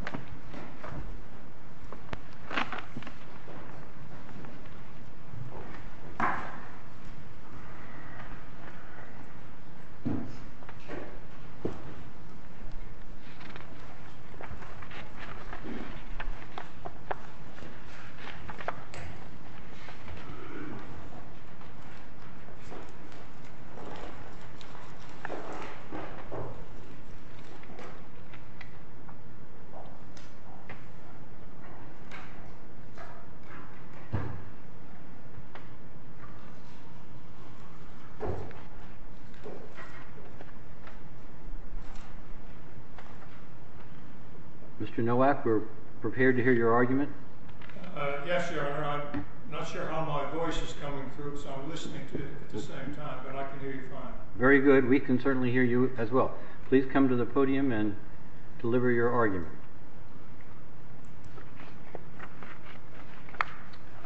Army Base in Glasgow Mr. Nowak, we're prepared to hear your argument. Yes, Your Honor. I'm not sure how my voice is coming through, so I'm listening to it at the same time, but I can hear you fine. Very good. We can certainly hear you as well. Please come to the podium and deliver your argument.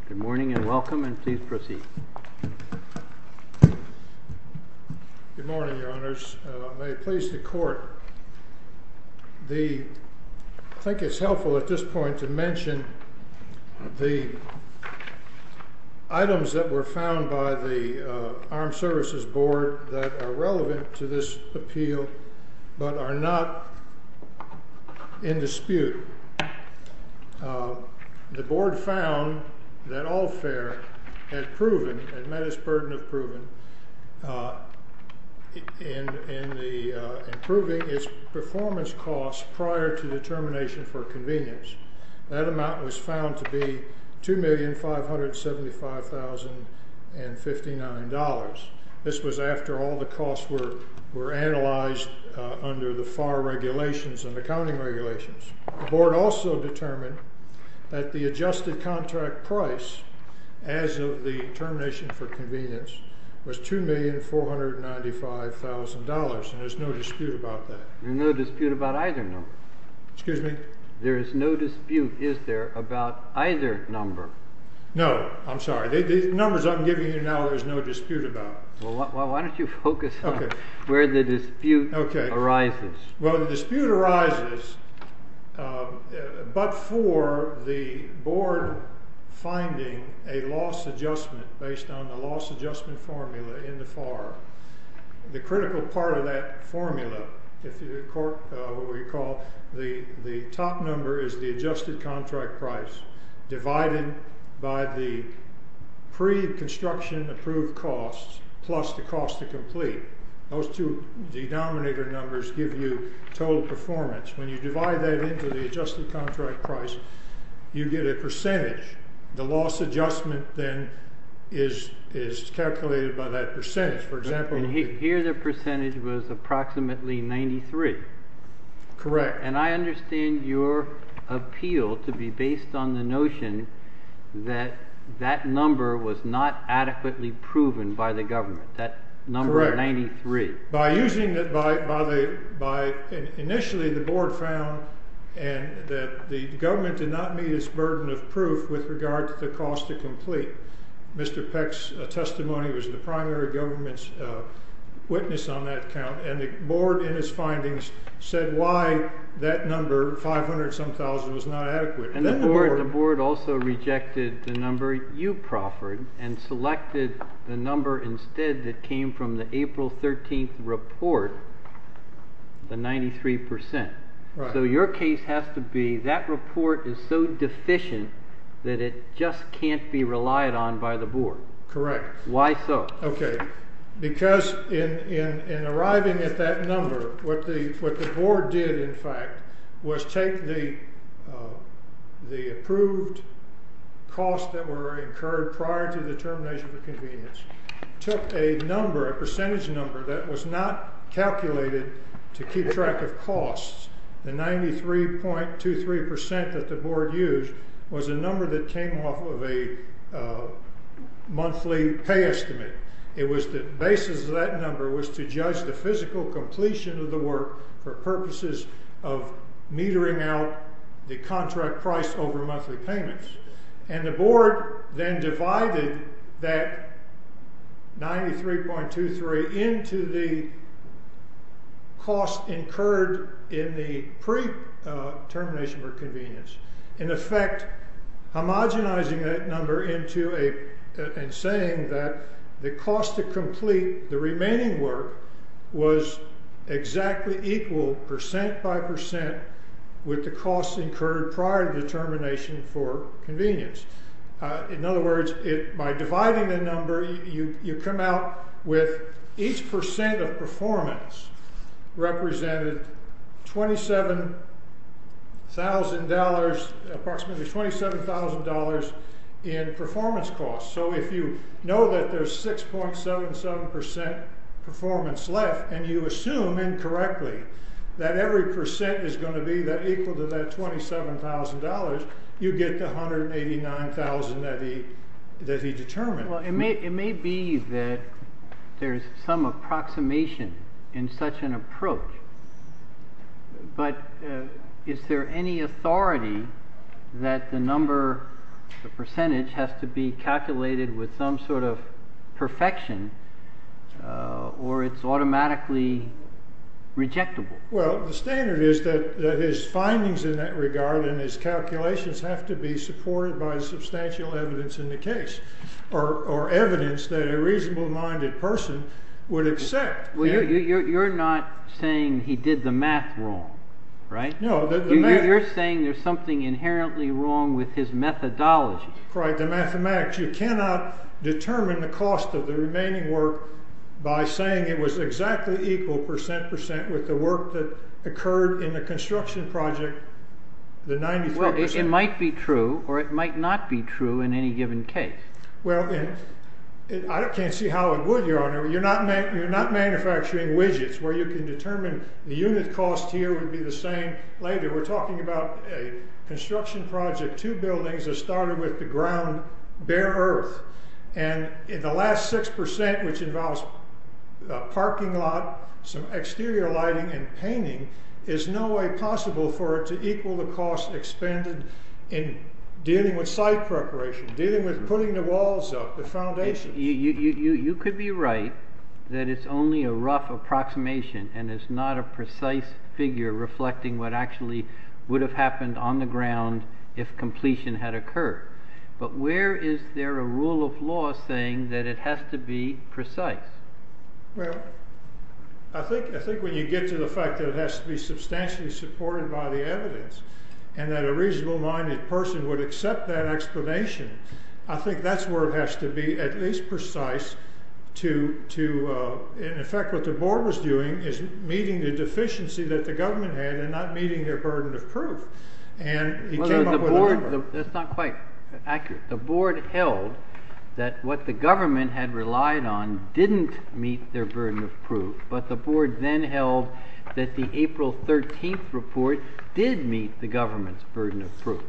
Good morning and welcome, and please proceed. Good morning, Your Honors. May it please the Court, I think it's helpful at this point to mention the items that were found by the Armed Services Board that are relevant to this appeal but are not in dispute. The Board found that All Fair had met its burden of proving its performance costs prior to the termination for convenience. That amount was found to be $2,575,059. This was after all the costs were analyzed under the FAR regulations and accounting regulations. The Board also determined that the adjusted contract price as of the termination for convenience was $2,495,000, and there's no dispute about that. There's no dispute about either number. Excuse me? There is no dispute, is there, about either number? No, I'm sorry. The numbers I'm giving you now, there's no dispute about. Well, why don't you focus on where the dispute arises. Well, the dispute arises but for the Board finding a loss adjustment based on the loss adjustment formula in the FAR. The critical part of that formula, if you recall, the top number is the adjusted contract price divided by the pre-construction approved costs plus the cost to complete. Those two denominator numbers give you total performance. When you divide that into the adjusted contract price, you get a percentage. The loss adjustment then is calculated by that percentage. Here the percentage was approximately 93. Correct. And I understand your appeal to be based on the notion that that number was not adequately proven by the government, that number 93. Initially the Board found that the government did not meet its burden of proof with regard to the cost to complete. Mr. Peck's testimony was the primary government's witness on that count, and the Board in its findings said why that number, 500-some-thousand, was not adequate. And the Board also rejected the number you proffered and selected the number instead that came from the April 13th report, the 93%. So your case has to be that report is so deficient that it just can't be relied on by the Board. Correct. Why so? Because in arriving at that number, what the Board did, in fact, was take the approved costs that were incurred prior to the termination of the convenience, took a percentage number that was not calculated to keep track of costs. The 93.23% that the Board used was a number that came off of a monthly pay estimate. It was the basis of that number was to judge the physical completion of the work for purposes of metering out the contract price over monthly payments. And the Board then divided that 93.23% into the costs incurred in the pre-termination for convenience. In effect, homogenizing that number and saying that the cost to complete the remaining work was exactly equal, percent by percent, with the costs incurred prior to the termination for convenience. In other words, by dividing the number, you come out with each percent of performance represented $27,000, approximately $27,000 in performance costs. So if you know that there's 6.77% performance left and you assume incorrectly that every percent is going to be equal to that $27,000, you get the $189,000 that he determined. Well, it may be that there's some approximation in such an approach, but is there any authority that the number, the percentage, has to be calculated with some sort of perfection or it's automatically rejectable? Well, the standard is that his findings in that regard and his calculations have to be supported by substantial evidence in the case or evidence that a reasonable-minded person would accept. Well, you're not saying he did the math wrong, right? No. You're saying there's something inherently wrong with his methodology. You cannot determine the cost of the remaining work by saying it was exactly equal, percent by percent, with the work that occurred in the construction project, the 93%. Well, it might be true or it might not be true in any given case. Well, I can't see how it would, Your Honor. You're not manufacturing widgets where you can determine the unit cost here would be the same later. We're talking about a construction project, two buildings that started with the ground, bare earth, and in the last 6%, which involves a parking lot, some exterior lighting and painting, is no way possible for it to equal the cost expended in dealing with site preparation, dealing with putting the walls up, the foundation. You could be right that it's only a rough approximation and it's not a precise figure reflecting what actually would have happened on the ground if completion had occurred. But where is there a rule of law saying that it has to be precise? Well, I think when you get to the fact that it has to be substantially supported by the evidence and that a reasonable-minded person would accept that explanation, I think that's where it has to be at least precise to, in effect, what the board was doing is meeting the deficiency that the government had and not meeting their burden of proof. That's not quite accurate. The board held that what the government had relied on didn't meet their burden of proof, but the board then held that the April 13th report did meet the government's burden of proof.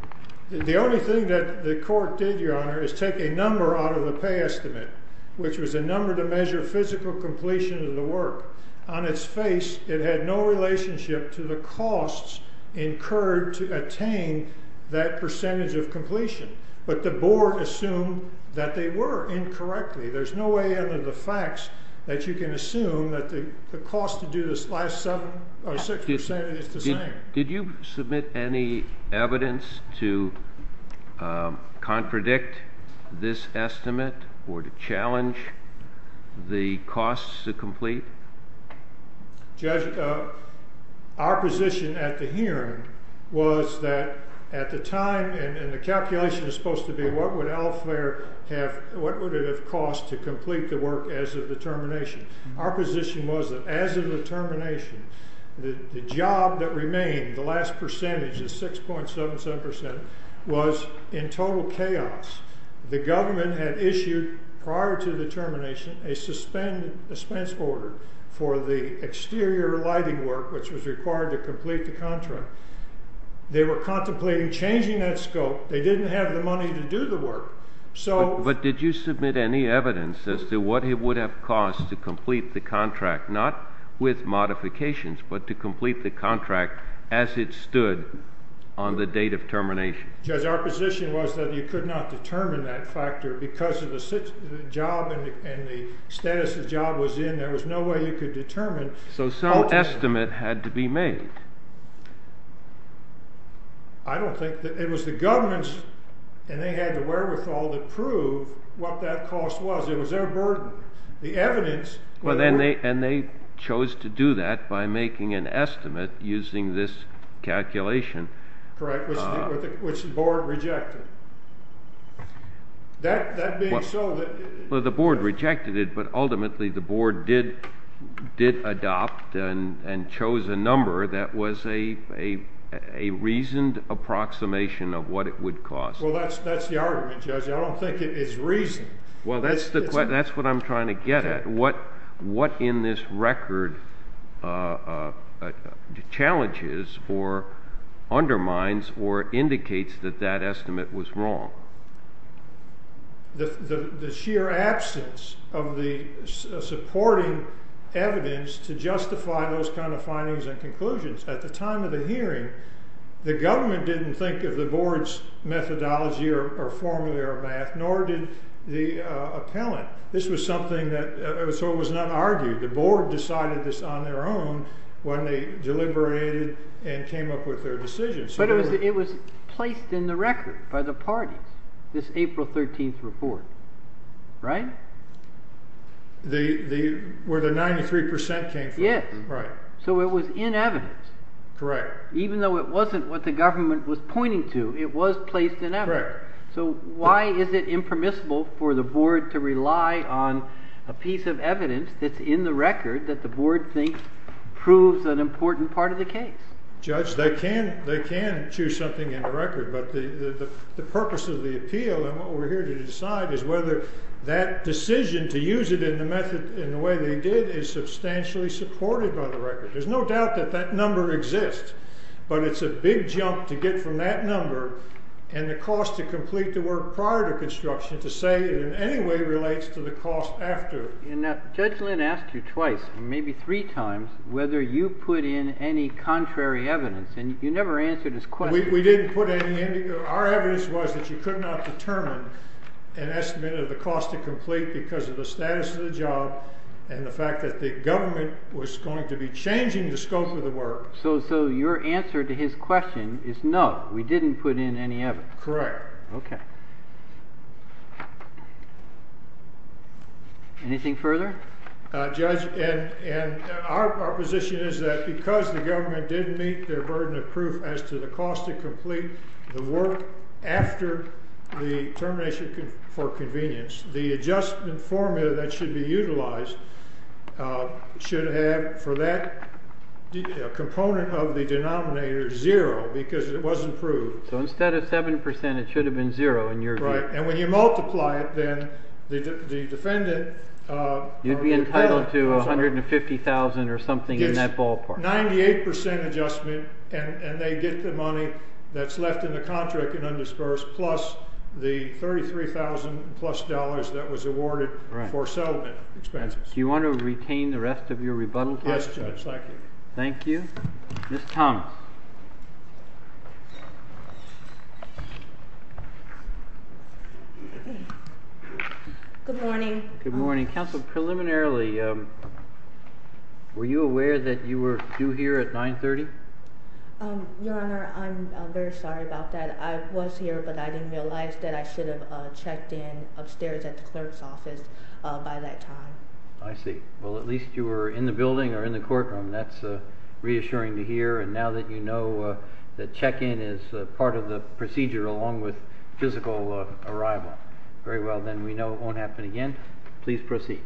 The only thing that the court did, Your Honor, is take a number out of the pay estimate, which was a number to measure physical completion of the work. On its face, it had no relationship to the costs incurred to attain that percentage of completion. But the board assumed that they were incorrectly. There's no way under the facts that you can assume that the cost to do this last 7% or 6% is the same. Did you submit any evidence to contradict this estimate or to challenge the costs to complete? Judge, our position at the hearing was that at the time, and the calculation is supposed to be what would it have cost to complete the work as of the termination. Our position was that as of the termination, the job that remained, the last percentage, the 6.77%, was in total chaos. The government had issued, prior to the termination, a suspense order for the exterior lighting work, which was required to complete the contract. They were contemplating changing that scope. They didn't have the money to do the work. But did you submit any evidence as to what it would have cost to complete the contract, not with modifications, but to complete the contract as it stood on the date of termination? Judge, our position was that you could not determine that factor because of the job and the status the job was in. There was no way you could determine. So some estimate had to be made. I don't think that—it was the government's—and they had the wherewithal to prove what that cost was. It was their burden. The evidence— And they chose to do that by making an estimate using this calculation. Correct, which the board rejected. That being so— Well, the board rejected it, but ultimately the board did adopt and chose a number that was a reasoned approximation of what it would cost. Well, that's the argument, Judge. I don't think it is reasoned. Well, that's what I'm trying to get at. What in this record challenges or undermines or indicates that that estimate was wrong? The sheer absence of the supporting evidence to justify those kind of findings and conclusions. At the time of the hearing, the government didn't think of the board's methodology or formula or math, nor did the appellant. This was something that—so it was not argued. The board decided this on their own when they deliberated and came up with their decisions. But it was placed in the record by the parties, this April 13th report, right? Where the 93 percent came from. Yes. Right. So it was in evidence. Correct. Even though it wasn't what the government was pointing to, it was placed in evidence. Correct. So why is it impermissible for the board to rely on a piece of evidence that's in the record that the board thinks proves an important part of the case? Judge, they can choose something in the record, but the purpose of the appeal and what we're here to decide is whether that decision to use it in the way they did is substantially supported by the record. There's no doubt that that number exists, but it's a big jump to get from that number and the cost to complete the work prior to construction to say it in any way relates to the cost after. Judge Lynn asked you twice, maybe three times, whether you put in any contrary evidence, and you never answered his question. We didn't put any. Our evidence was that you could not determine an estimate of the cost to complete because of the status of the job and the fact that the government was going to be changing the scope of the work. So your answer to his question is no, we didn't put in any evidence. Correct. OK. Anything further? Judge, and our position is that because the government didn't meet their burden of proof as to the cost to complete the work after the termination for convenience, the adjustment formula that should be utilized should have for that component of the denominator zero because it wasn't proved. So instead of seven percent, it should have been zero in your right. And when you multiply it, then the defendant. You'd be entitled to one hundred and fifty thousand or something in that ballpark. Ninety eight percent adjustment and they get the money that's left in the contract and undispersed plus the thirty three thousand plus dollars that was awarded for settlement expenses. Do you want to retain the rest of your rebuttal? Yes. Thank you. Miss Thomas. Good morning. Good morning. Council preliminarily. Were you aware that you were due here at nine thirty? Your Honor, I'm very sorry about that. I was here, but I didn't realize that I should have checked in upstairs at the clerk's office by that time. I see. Well, at least you were in the building or in the courtroom. That's reassuring to hear. And now that you know that check in is part of the procedure, along with physical arrival. Very well, then we know it won't happen again. Please proceed.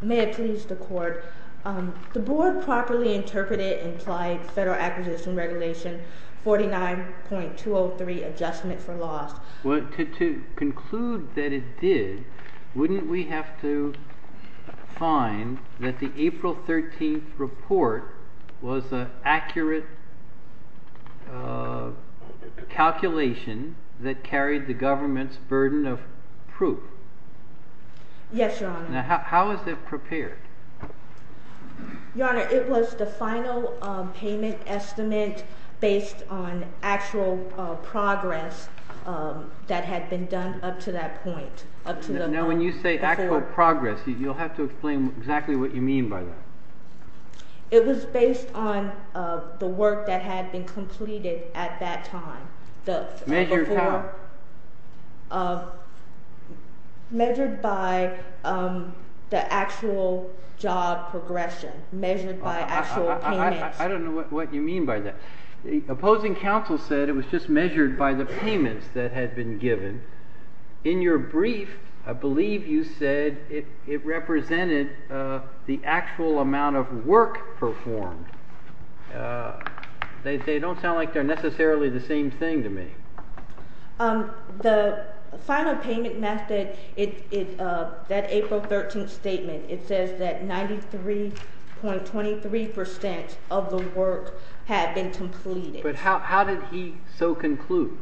May it please the court. The board properly interpreted implied federal acquisition regulation. Forty nine point two oh three adjustment for loss. To conclude that it did. Wouldn't we have to find that the April 13th report was an accurate calculation that carried the government's burden of proof? Yes. Now, how is it prepared? Your Honor, it was the final payment estimate based on actual progress that had been done up to that point. Now, when you say actual progress, you'll have to explain exactly what you mean by that. It was based on the work that had been completed at that time. Measured how? Measured by actual payments. I don't know what you mean by that. Opposing counsel said it was just measured by the payments that had been given. In your brief, I believe you said it represented the actual amount of work performed. They don't sound like they're necessarily the same thing to me. The final payment method, that April 13th statement, it says that 93.23% of the work had been completed. But how did he so conclude?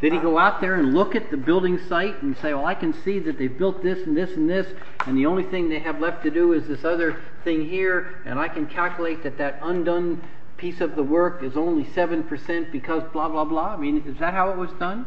Did he go out there and look at the building site and say, well, I can see that they built this and this and this, and the only thing they have left to do is this other thing here. And I can calculate that that undone piece of the work is only 7% because blah, blah, blah. I mean, is that how it was done?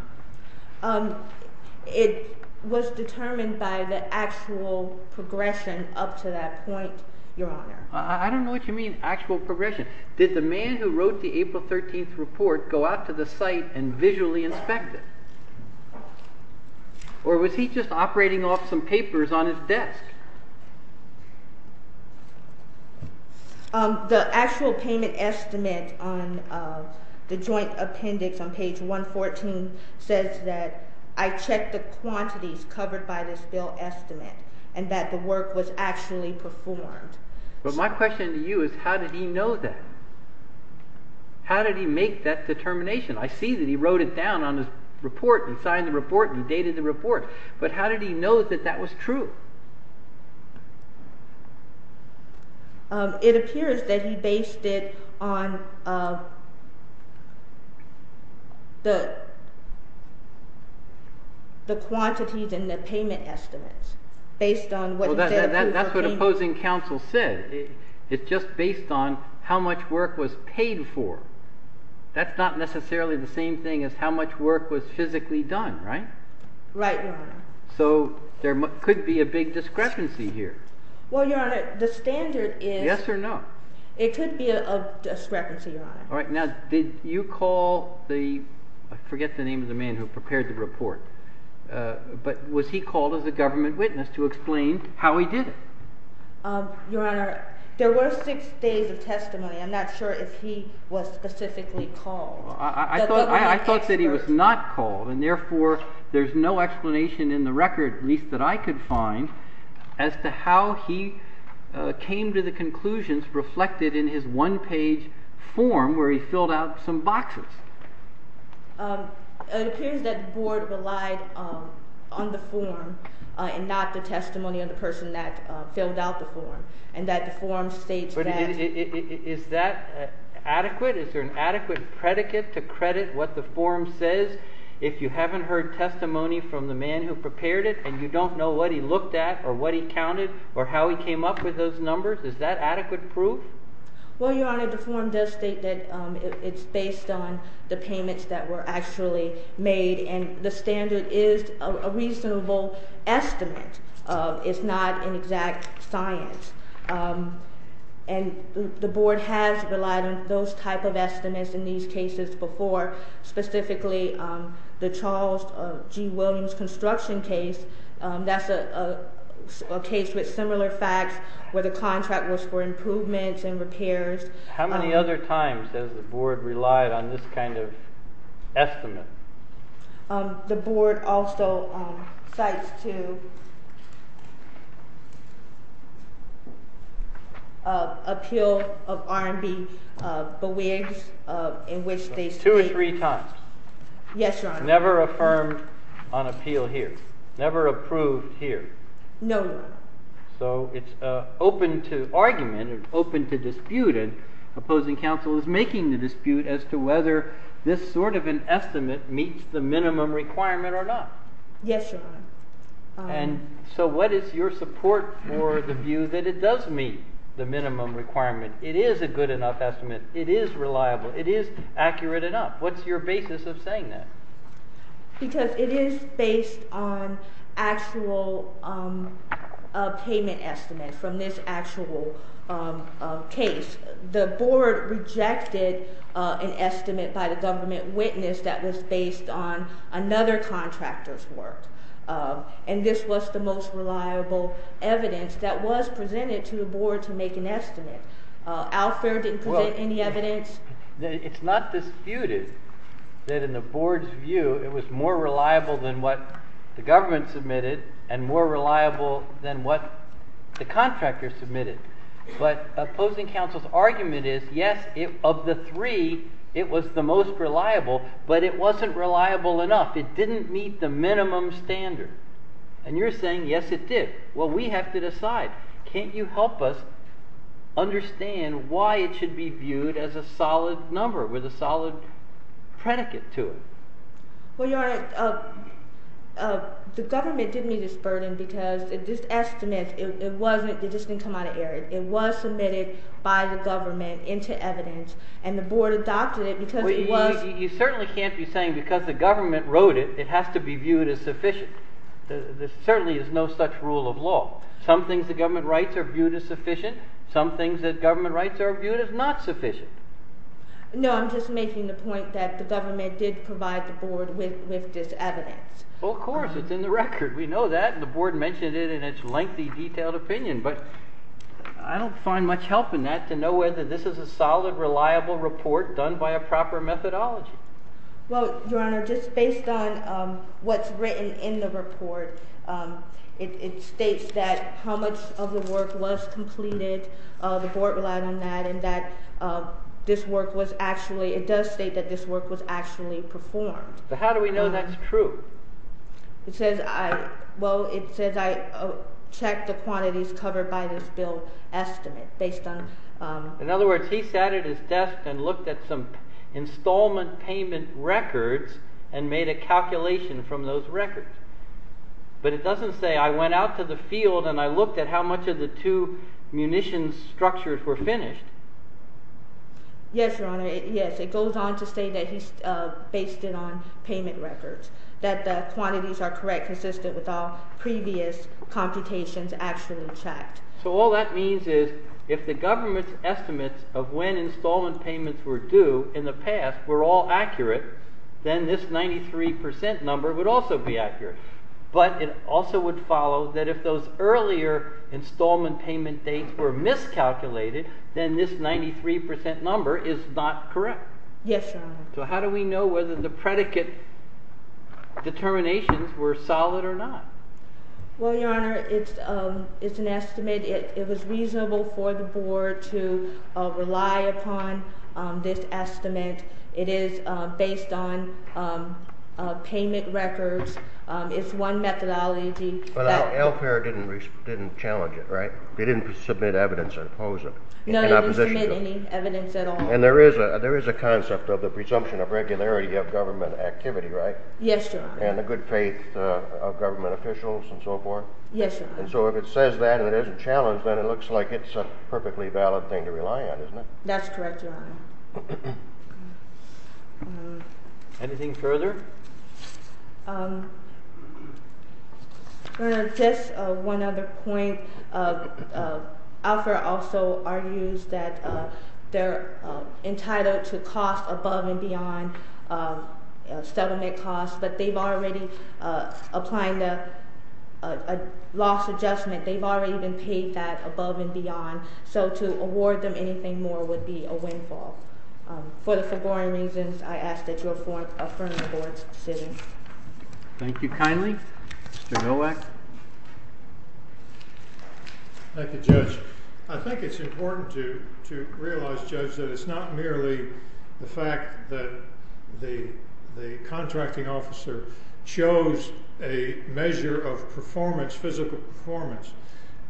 It was determined by the actual progression up to that point, Your Honor. I don't know what you mean, actual progression. Did the man who wrote the April 13th report go out to the site and visually inspect it? Or was he just operating off some papers on his desk? The actual payment estimate on the joint appendix on page 114 says that I checked the quantities covered by this bill estimate and that the work was actually performed. But my question to you is, how did he know that? How did he make that determination? I see that he wrote it down on his report and signed the report and dated the report. But how did he know that that was true? It appears that he based it on the quantities and the payment estimates based on what he said. That's what opposing counsel said. It's just based on how much work was paid for. That's not necessarily the same thing as how much work was physically done, right? Right, Your Honor. So there could be a big discrepancy here. Well, Your Honor, the standard is... Yes or no? It could be a discrepancy, Your Honor. All right. Now, did you call the... I forget the name of the man who prepared the report. But was he called as a government witness to explain how he did it? Your Honor, there were six days of testimony. I'm not sure if he was specifically called. I thought that he was not called, and therefore there's no explanation in the record, at least that I could find, as to how he came to the conclusions reflected in his one-page form where he filled out some boxes. It appears that the board relied on the form and not the testimony of the person that filled out the form, and that the form states that... Is that adequate? Is there an adequate predicate to credit what the form says? If you haven't heard testimony from the man who prepared it and you don't know what he looked at or what he counted or how he came up with those numbers, is that adequate proof? Well, Your Honor, the form does state that it's based on the payments that were actually made, and the standard is a reasonable estimate. It's not an exact science. And the board has relied on those type of estimates in these cases before, specifically the Charles G. Williams construction case. That's a case with similar facts where the contract was for improvements and repairs. How many other times has the board relied on this kind of estimate? The board also cites to appeal of R&B bewigs in which they speak. Two or three times? Yes, Your Honor. Never affirmed on appeal here? Never approved here? No, Your Honor. So it's open to argument and open to dispute, and opposing counsel is making the dispute as to whether this sort of an estimate meets the minimum requirement or not. Yes, Your Honor. And so what is your support for the view that it does meet the minimum requirement? It is a good enough estimate. It is reliable. It is accurate enough. What's your basis of saying that? Because it is based on actual payment estimates from this actual case. The board rejected an estimate by the government witness that was based on another contractor's work. And this was the most reliable evidence that was presented to the board to make an estimate. Al Fair didn't present any evidence. It's not disputed that in the board's view it was more reliable than what the government submitted and more reliable than what the contractor submitted. But opposing counsel's argument is, yes, of the three, it was the most reliable, but it wasn't reliable enough. It didn't meet the minimum standard. And you're saying, yes, it did. Well, we have to decide. Can't you help us understand why it should be viewed as a solid number with a solid predicate to it? Well, Your Honor, the government didn't meet its burden because this estimate, it just didn't come out of air. It was submitted by the government into evidence, and the board adopted it because it was— You certainly can't be saying because the government wrote it, it has to be viewed as sufficient. There certainly is no such rule of law. Some things the government writes are viewed as sufficient. Some things that government writes are viewed as not sufficient. No, I'm just making the point that the government did provide the board with this evidence. Well, of course. It's in the record. We know that, and the board mentioned it in its lengthy, detailed opinion. But I don't find much help in that to know whether this is a solid, reliable report done by a proper methodology. Well, Your Honor, just based on what's written in the report, it states that how much of the work was completed. The board relied on that and that this work was actually—it does state that this work was actually performed. But how do we know that's true? It says I—well, it says I checked the quantities covered by this bill estimate based on— in other words, he sat at his desk and looked at some installment payment records and made a calculation from those records. But it doesn't say I went out to the field and I looked at how much of the two munitions structures were finished. Yes, Your Honor. Yes, it goes on to say that he based it on payment records, that the quantities are correct, consistent with all previous computations actually checked. So all that means is if the government's estimates of when installment payments were due in the past were all accurate, then this 93 percent number would also be accurate. But it also would follow that if those earlier installment payment dates were miscalculated, then this 93 percent number is not correct. Yes, Your Honor. So how do we know whether the predicate determinations were solid or not? Well, Your Honor, it's an estimate. It was reasonable for the board to rely upon this estimate. It is based on payment records. It's one methodology. But our LPAIR didn't challenge it, right? They didn't submit evidence and oppose it. No, they didn't submit any evidence at all. And there is a concept of the presumption of regularity of government activity, right? Yes, Your Honor. And the good faith of government officials and so forth. Yes, Your Honor. And so if it says that and it isn't challenged, then it looks like it's a perfectly valid thing to rely on, isn't it? That's correct, Your Honor. Anything further? Your Honor, just one other point. LPAIR also argues that they're entitled to cost above and beyond settlement costs. But they've already applied a loss adjustment. They've already been paid that above and beyond. So to award them anything more would be a windfall. Further, for boring reasons, I ask that you affirm the board's decision. Thank you kindly. Mr. Millwack. Thank you, Judge. I think it's important to realize, Judge, that it's not merely the fact that the contracting officer chose a measure of performance, physical performance.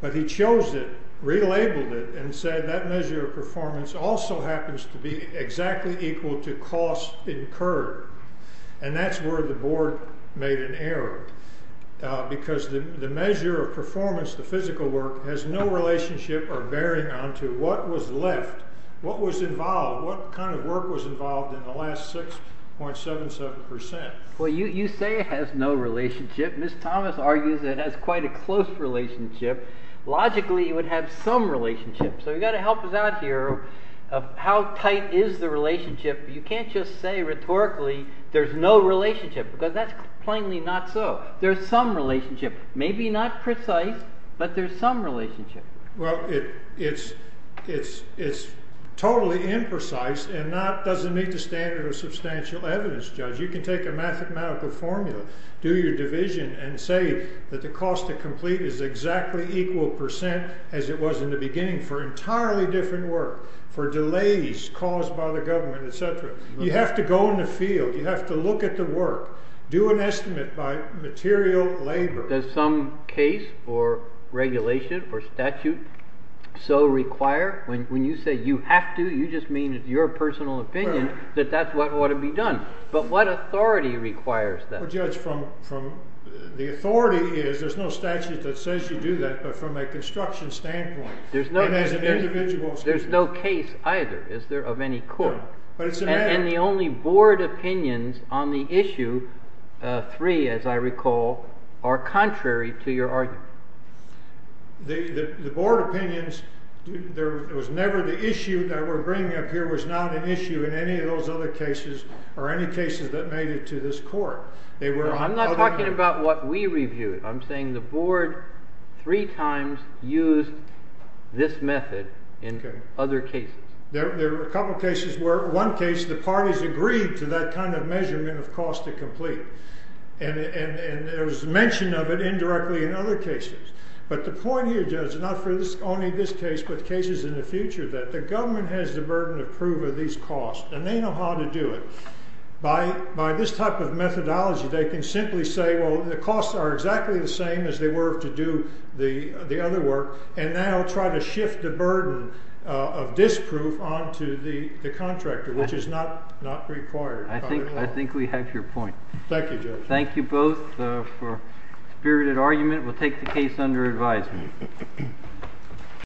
But he chose it, relabeled it, and said that measure of performance also happens to be exactly equal to cost incurred. And that's where the board made an error. Because the measure of performance, the physical work, has no relationship or bearing on to what was left, what was involved, what kind of work was involved in the last 6.77%. Well, you say it has no relationship. Ms. Thomas argues it has quite a close relationship. Logically, it would have some relationship. So you've got to help us out here of how tight is the relationship. You can't just say rhetorically there's no relationship because that's plainly not so. There's some relationship, maybe not precise, but there's some relationship. Well, it's totally imprecise and doesn't meet the standard of substantial evidence, Judge. You can take a mathematical formula. Do your division and say that the cost to complete is exactly equal percent as it was in the beginning for entirely different work, for delays caused by the government, etc. You have to go in the field. You have to look at the work. Do an estimate by material labor. Does some case or regulation or statute so require? When you say you have to, you just mean it's your personal opinion that that's what ought to be done. But what authority requires that? Well, Judge, the authority is there's no statute that says you do that, but from a construction standpoint. There's no case either, is there, of any court? And the only board opinions on the issue, three, as I recall, are contrary to your argument. The board opinions, there was never the issue that we're bringing up here was not an issue in any of those other cases or any cases that made it to this court. I'm not talking about what we reviewed. I'm saying the board three times used this method in other cases. There were a couple of cases where one case the parties agreed to that kind of measurement of cost to complete. And there was mention of it indirectly in other cases. But the point here, Judge, not for only this case but cases in the future, that the government has the burden of proof of these costs. And they know how to do it. By this type of methodology, they can simply say, well, the costs are exactly the same as they were to do the other work. And now try to shift the burden of this proof onto the contractor, which is not required. I think we have your point. Thank you, Judge. Thank you both for spirited argument. We'll take the case under advisement.